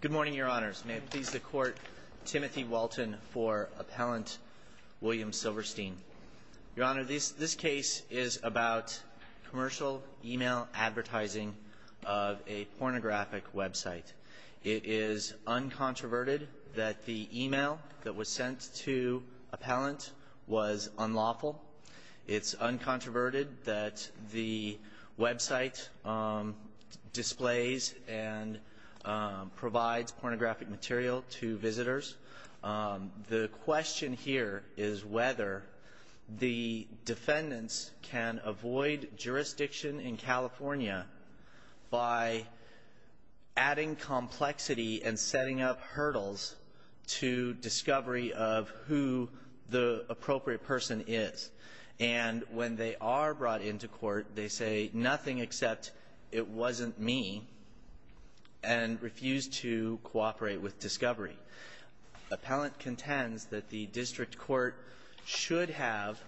Good morning, Your Honors. May it please the Court, Timothy Walton for Appellant William Silverstein. Your Honor, this case is about commercial email advertising of a pornographic website. It is uncontroverted that the email that was sent to Appellant was unlawful. It's uncontroverted that the website displays and provides pornographic material to visitors. The question here is whether the defendants can avoid jurisdiction in California by adding complexity and setting up hurdles to discovery of who the appropriate person is. And when they are brought into court, they say nothing except it wasn't me and refuse to cooperate with discovery. Appellant contends that the district court should have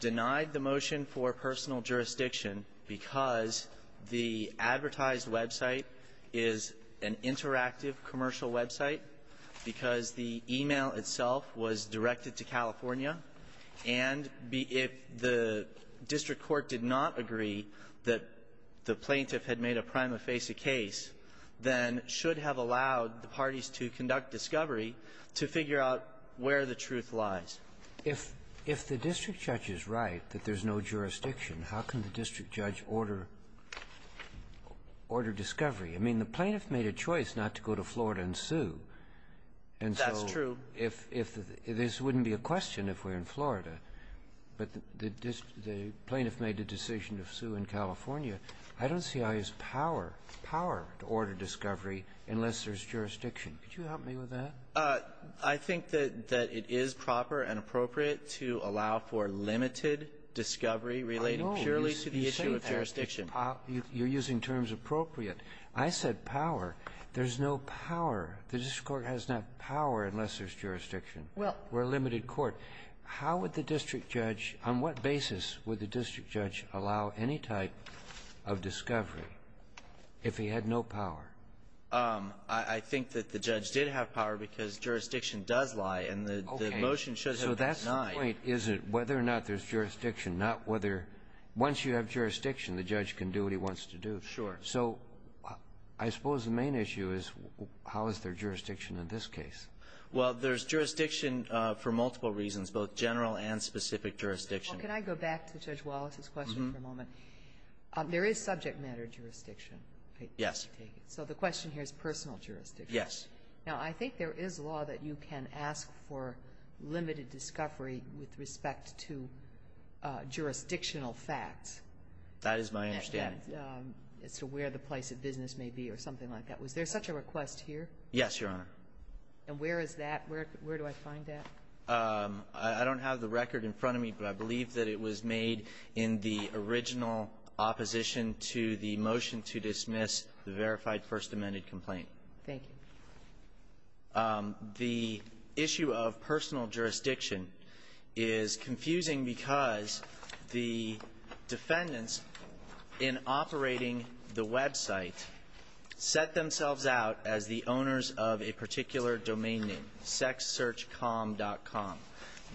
denied the motion for personal jurisdiction because the advertised website is an interactive commercial website, because the email itself was directed to California. And if the district court did not agree that the plaintiff had made a prima facie case, then should have allowed the parties to conduct discovery to figure out where the truth lies. If the district judge is right that there's no jurisdiction, how can the district judge order discovery? I mean, the plaintiff made a choice not to go to Florida and sue. That's true. And so if this wouldn't be a question if we're in Florida, but the plaintiff made the decision to sue in California, I don't see how he has power to order discovery unless there's jurisdiction. Could you help me with that? I think that it is proper and appropriate to allow for limited discovery relating purely to the issue of jurisdiction. You're using terms appropriate. I said power. There's no power. The district court has no power unless there's jurisdiction. Well, we're a limited court. How would the district judge, on what basis would the district judge allow any type of discovery if he had no power? I think that the judge did have power because jurisdiction does lie, and the motion should have been denied. Okay. So that's the point, is it, whether or not there's jurisdiction, not whether once you have jurisdiction, the judge can do what he wants to do. Sure. So I suppose the main issue is how is there jurisdiction in this case? Well, there's jurisdiction for multiple reasons, both general and specific jurisdiction. Well, can I go back to Judge Wallace's question for a moment? There is subject matter jurisdiction. Yes. So the question here is personal jurisdiction. Yes. Now, I think there is law that you can ask for limited discovery with respect to jurisdictional facts. That is my understanding. As to where the place of business may be or something like that. Was there such a request here? Yes, Your Honor. And where is that? Where do I find that? I don't have the record in front of me, but I believe that it was made in the original opposition to the motion to dismiss the verified First Amendment complaint. Thank you. The issue of personal jurisdiction is confusing because the defendants in operating the website set themselves out as the owners of a particular domain name, sexsearchcom.com.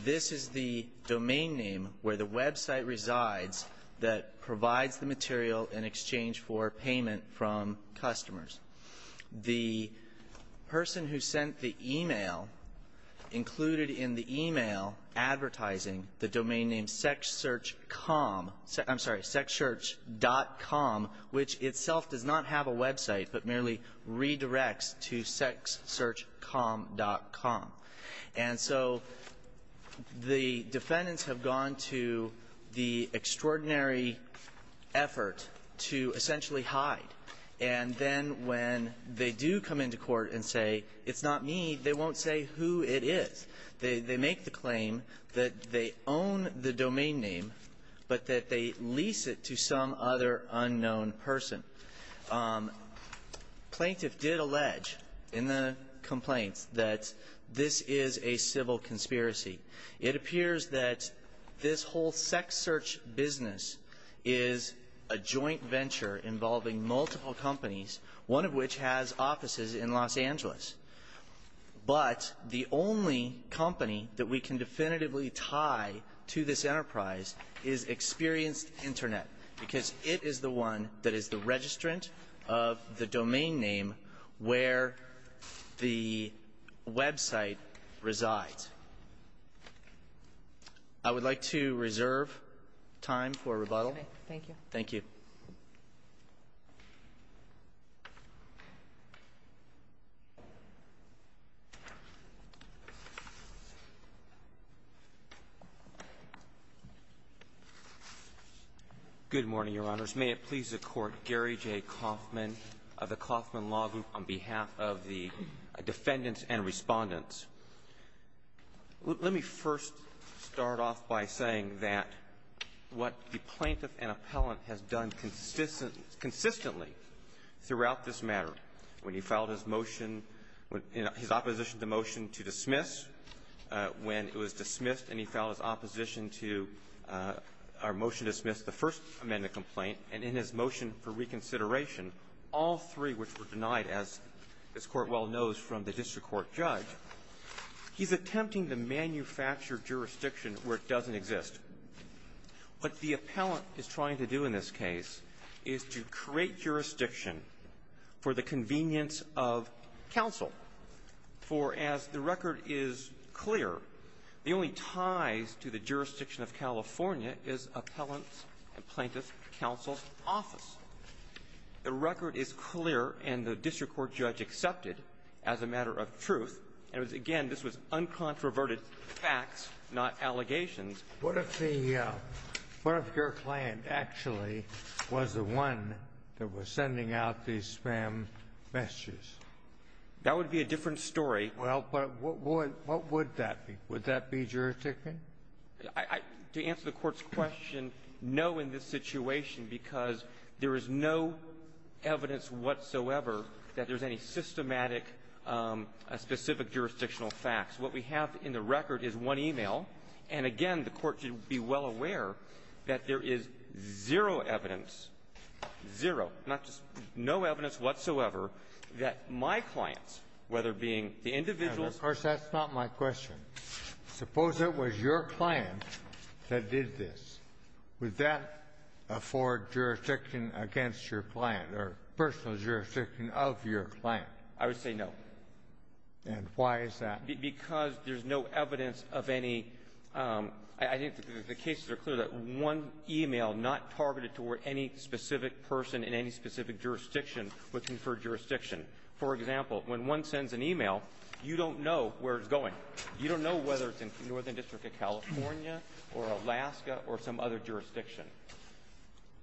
This is the domain name where the website resides that provides the material in exchange for payment from customers. The person who sent the e-mail included in the e-mail advertising the domain name sexsearchcom — I'm sorry, sexsearch.com, which itself does not have a website, but merely redirects to sexsearchcom.com. And so the defendants have gone to the extraordinary effort to essentially hide, and then when they do come into court and say, it's not me, they won't say who it is. They make the claim that they own the domain name, but that they lease it to some other unknown person. Plaintiff did allege in the complaints that this is a civil conspiracy. It appears that this whole sex search business is a joint venture involving multiple companies, one of which has offices in Los Angeles. But the only company that we can definitively tie to this enterprise is Experienced Internet, because it is the one that is the registrant of the domain name where the website resides. I would like to reserve time for rebuttal. Thank you. Thank you. Good morning, Your Honors. May it please the Court, Gary J. Coffman of the Coffman Law Group, on behalf of the defendants and Respondents. Let me first start off by saying that what the plaintiff and appellant has done consistently throughout this matter, when he filed his motion — his opposition to the motion to dismiss, when it was dismissed and he filed his opposition to our motion to dismiss the first amendment complaint and in his motion for reconsideration, all three which were denied, as this Court well knows, from the district court judge, he's attempting to manufacture jurisdiction where it doesn't exist. What the appellant is trying to do in this case is to create jurisdiction for the convenience of counsel, for as the record is clear, the only ties to the jurisdiction of California is appellant's and plaintiff's counsel's office. The record is clear, and the district court judge accepted as a matter of truth. And, again, this was uncontroverted facts, not allegations. What if the — what if your client actually was the one that was sending out these spam messages? That would be a different story. Well, but what would — what would that be? Would that be jurisdiction? I — to answer the Court's question, no in this situation, because there is no evidence whatsoever that there's any systematic specific jurisdictional facts. What we have in the record is one e-mail. And, again, the Court should be well aware that there is zero evidence, zero, not just — no evidence whatsoever that my clients, whether being the individual — Of course, that's not my question. Suppose it was your client that did this. Would that afford jurisdiction against your client or personal jurisdiction of your client? I would say no. And why is that? Because there's no evidence of any — I think the cases are clear that one e-mail not targeted toward any specific person in any specific jurisdiction would confer jurisdiction. For example, when one sends an e-mail, you don't know where it's going. You don't know whether it's in the Northern District of California or Alaska or some other jurisdiction.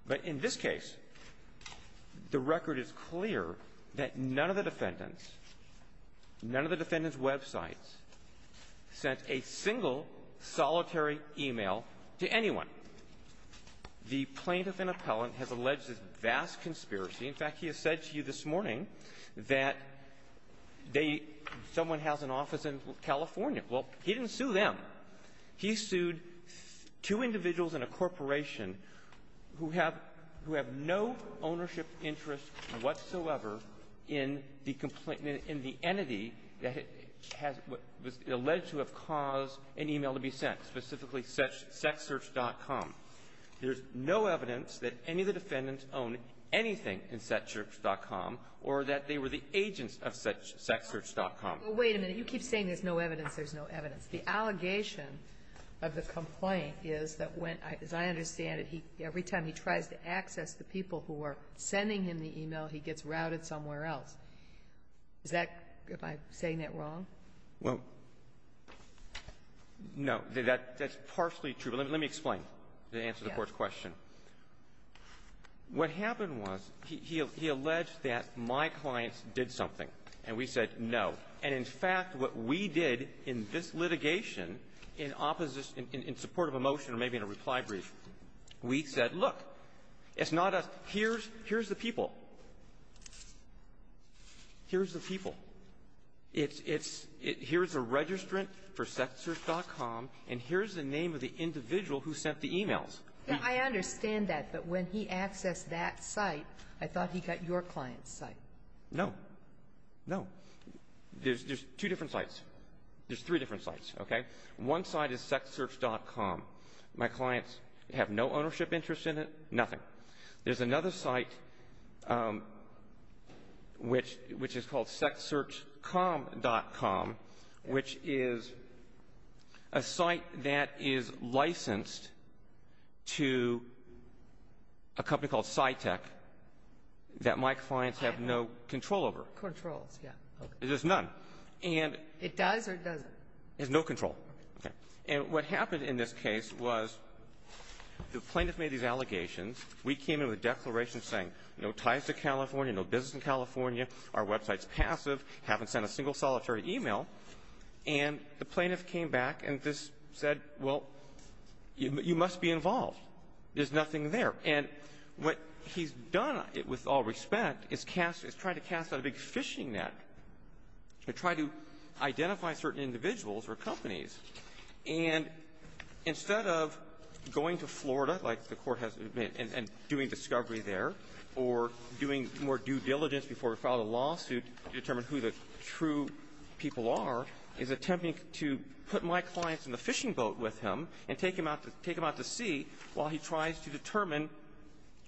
But in this case, the record is clear that none of the defendants, none of the defendants' websites sent a single solitary e-mail to anyone. The plaintiff and appellant has alleged this vast conspiracy. In fact, he has said to you this morning that they — someone has an office in California. Well, he didn't sue them. He sued two individuals in a corporation who have — who have no ownership interest whatsoever in the — in the entity that has — was alleged to have caused an e-mail to be sent, specifically sexsearch.com. There's no evidence that any of the defendants own anything in sexsearch.com or that they were the agents of sexsearch.com. Wait a minute. You keep saying there's no evidence. There's no evidence. The allegation of the complaint is that when — as I understand it, he — every time he tries to access the people who are sending him the e-mail, he gets routed somewhere else. Is that — am I saying that wrong? Well, no. That's partially true. But let me explain to answer the Court's question. What happened was he — he alleged that my clients did something, and we said no. And, in fact, what we did in this litigation, in opposition — in support of a motion or maybe in a reply brief, we said, look, it's not us. Here's — here's the people. Here's the people. It's — it's — here's a registrant for sexsearch.com, and here's the name of the individual who sent the e-mails. I understand that. But when he accessed that site, I thought he got your client's site. No. No. There's — there's two different sites. There's three different sites, okay? One site is sexsearch.com. My clients have no ownership interest in it, nothing. There's another site, which — which is called sexsearch.com, which is a site that is licensed to a company called Cytec that my clients have no control over. Controls, yeah. There's none. And — It does or it doesn't? It has no control. Okay. And what happened in this case was the plaintiff made these allegations. We came in with a declaration saying no ties to California, no business in California, our website's passive, haven't sent a single solitary e-mail. And the plaintiff came back and just said, well, you must be involved. There's nothing there. And what he's done, with all respect, is cast — is tried to cast out a big phishing net. He tried to identify certain individuals or companies. And instead of going to Florida, like the Court has — and doing discovery there, or doing more due diligence before we file a lawsuit to determine who the true people are, he's attempting to put my clients in the fishing boat with him and take him out to — take him out to sea while he tries to determine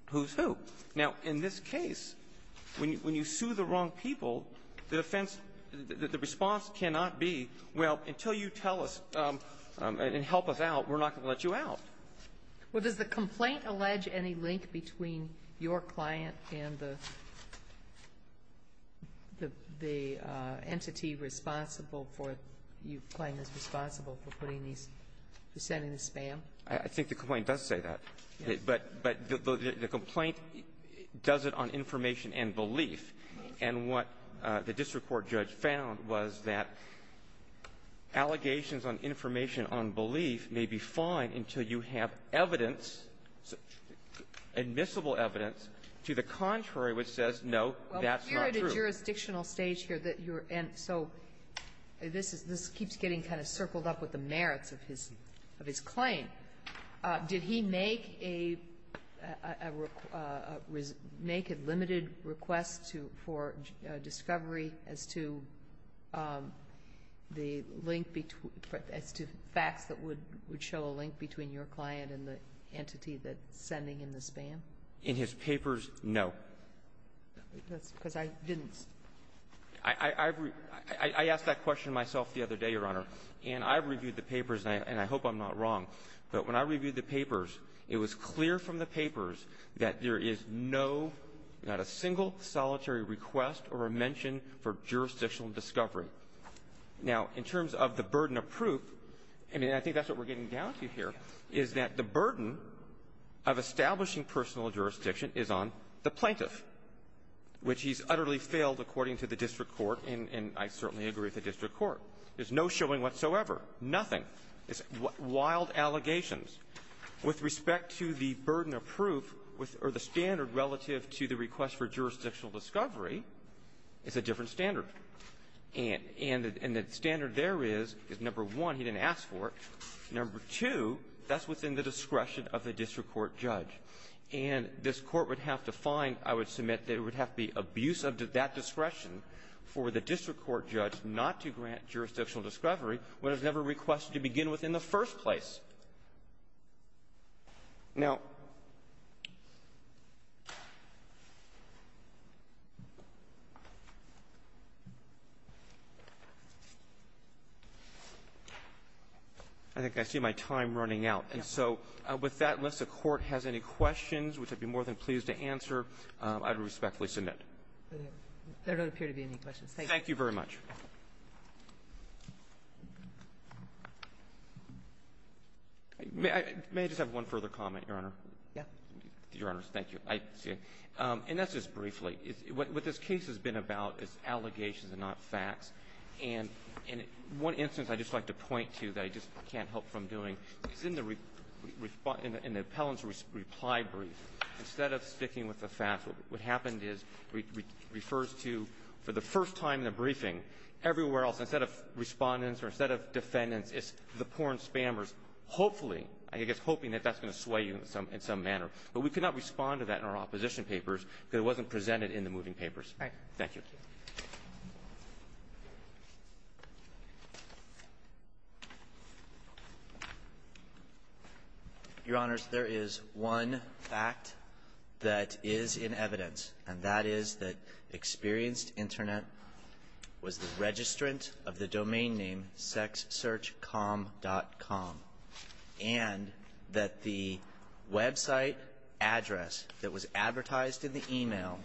who's who. Now, in this case, when you sue the wrong people, the defense — the response cannot be, well, until you tell us and help us out, we're not going to let you out. Well, does the complaint allege any link between your client and the entity responsible for — you claim is responsible for putting these — for sending the spam? I think the complaint does say that. Yes. But — but the complaint does it on information and belief. And what the district court judge found was that allegations on information on belief may be fine until you have evidence, admissible evidence, to the contrary which says, no, that's not true. Well, we're at a jurisdictional stage here that you're — and so this is — this keeps getting kind of circled up with the merits of his — of his claim. Did he make a — make a limited request to — for discovery as to the link between — as to facts that would — would show a link between your client and the entity that's sending him the spam? In his papers, no. That's because I didn't — I — I've — I asked that question myself the other day, Your Honor, and I've reviewed the papers, and I hope I'm not wrong, but when I reviewed the papers, it was clear from the papers that there is no, not a single solitary request or a mention for jurisdictional discovery. Now, in terms of the burden of proof, I mean, I think that's what we're getting down to here, is that the burden of establishing personal jurisdiction is on the plaintiff, which he's utterly failed, according to the district court, and I certainly agree with the district court. There's no showing whatsoever. Nothing. It's wild allegations. With respect to the burden of proof, with — or the standard relative to the request for jurisdictional discovery, it's a different standard. And — and the — and the standard there is, is, number one, he didn't ask for it. Number two, that's within the discretion of the district court judge. And this Court would have to find, I would submit, that it would have to be abusive to that discretion for the district court judge not to grant jurisdictional discovery when it was never requested to begin with in the first place. Now — I think I see my time running out. And so with that, unless the Court has any questions, which I'd be more than pleased to answer, I would respectfully submit. There don't appear to be any questions. Thank you. Thank you very much. May I — may I just have one further comment, Your Honor? Yeah. Your Honors, thank you. I — and that's just briefly. What this case has been about is allegations and not facts. And one instance I'd just like to point to that I just can't help from doing is in the — in the appellant's reply brief, instead of sticking with the facts, what happened is refers to, for the first time in the briefing, everywhere else, instead of Respondents or instead of Defendants, it's the porn spammers, hopefully, I guess, hoping that that's going to sway you in some — in some manner. But we could not respond to that in our opposition papers because it wasn't presented in the moving papers. Right. Thank you. Your Honors, there is one fact that is in evidence, and that is that experienced Internet was the registrant of the domain name sexsearchcom.com, and that the website address that was advertised in the email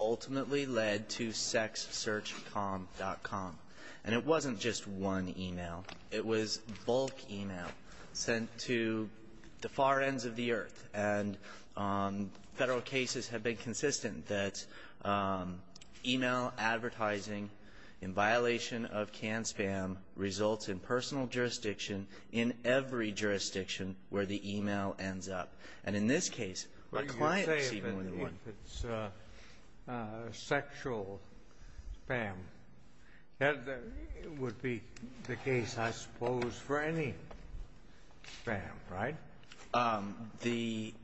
ultimately led to sexsearchcom.com. And it wasn't just one email. It was bulk email sent to the far ends of the earth. And Federal cases have been consistent that email advertising in violation of canned spam results in personal jurisdiction in every jurisdiction where the email ends up. And in this case, my client received more than one. But if you say it's sexual spam, that would be the case, I suppose, for any spam, right? The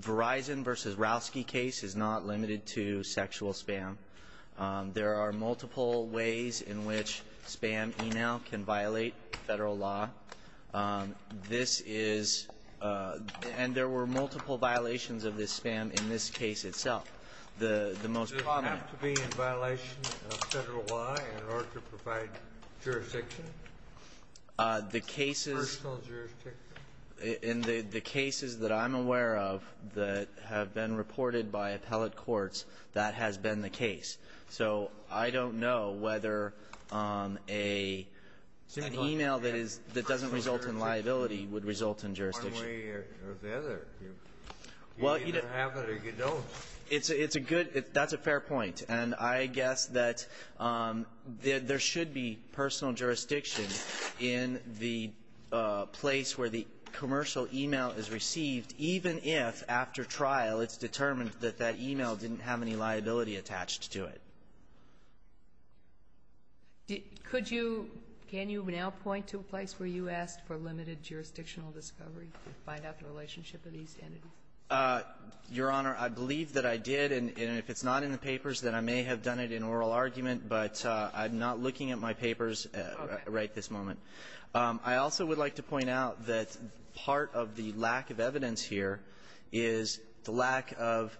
Verizon v. Rowski case is not limited to sexual spam. There are multiple ways in which spam email can violate Federal law. This is — and there were several cases where there were multiple violations of this spam in this case itself. The most common — Does it have to be in violation of Federal law in order to provide jurisdiction? The cases — Personal jurisdiction? In the cases that I'm aware of that have been reported by appellate courts, that has been the case. So I don't know whether an email that is — that doesn't result in liability would result in jurisdiction. Well, you don't have it or you don't. It's a good — that's a fair point. And I guess that there should be personal jurisdiction in the place where the commercial email is received, even if, after trial, it's determined that that email didn't have any liability attached to it. Could you — can you now point to a place where you asked for limited jurisdictional discovery to find out the relationship of these entities? Your Honor, I believe that I did. And if it's not in the papers, then I may have done it in oral argument. But I'm not looking at my papers right this moment. I also would like to point out that part of the lack of evidence here is the lack of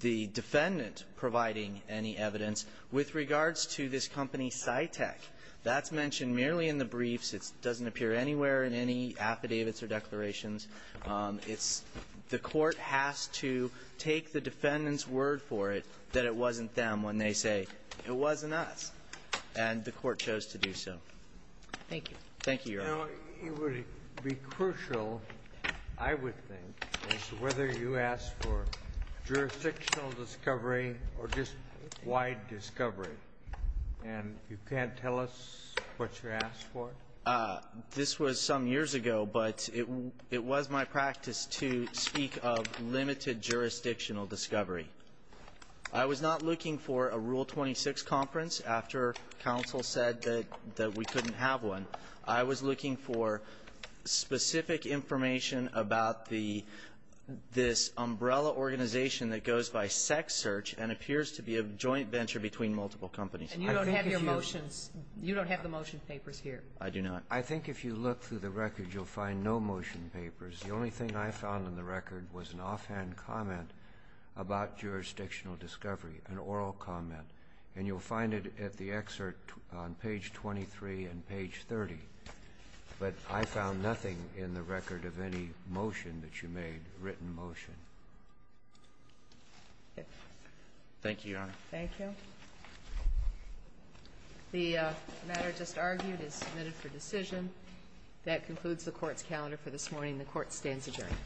the defendant providing any evidence with regards to this company Cytec. That's mentioned merely in the briefs. It doesn't appear anywhere in any affidavits or declarations. It's — the Court has to take the defendant's word for it that it wasn't them when they say, it wasn't us. And the Court chose to do so. Thank you. Thank you, Your Honor. Now, it would be crucial, I would think, as to whether you asked for jurisdictional discovery or just wide discovery. And you can't tell us what you asked for? This was some years ago, but it was my practice to speak of limited jurisdictional discovery. I was not looking for a Rule 26 conference after counsel said that we couldn't have one. I was looking for specific information about the — this umbrella organization that goes by sex search and appears to be a joint venture between multiple companies. And you don't have your motions — you don't have the motion papers here. I do not. I think if you look through the record, you'll find no motion papers. The only thing I found in the record was an offhand comment about jurisdictional discovery, an oral comment. And you'll find it at the excerpt on page 23 and page 30. But I found nothing in the record of any motion that you made, written motion. Thank you, Your Honor. Thank you. The matter just argued is submitted for decision. That concludes the Court's calendar for this morning. The Court stands adjourned.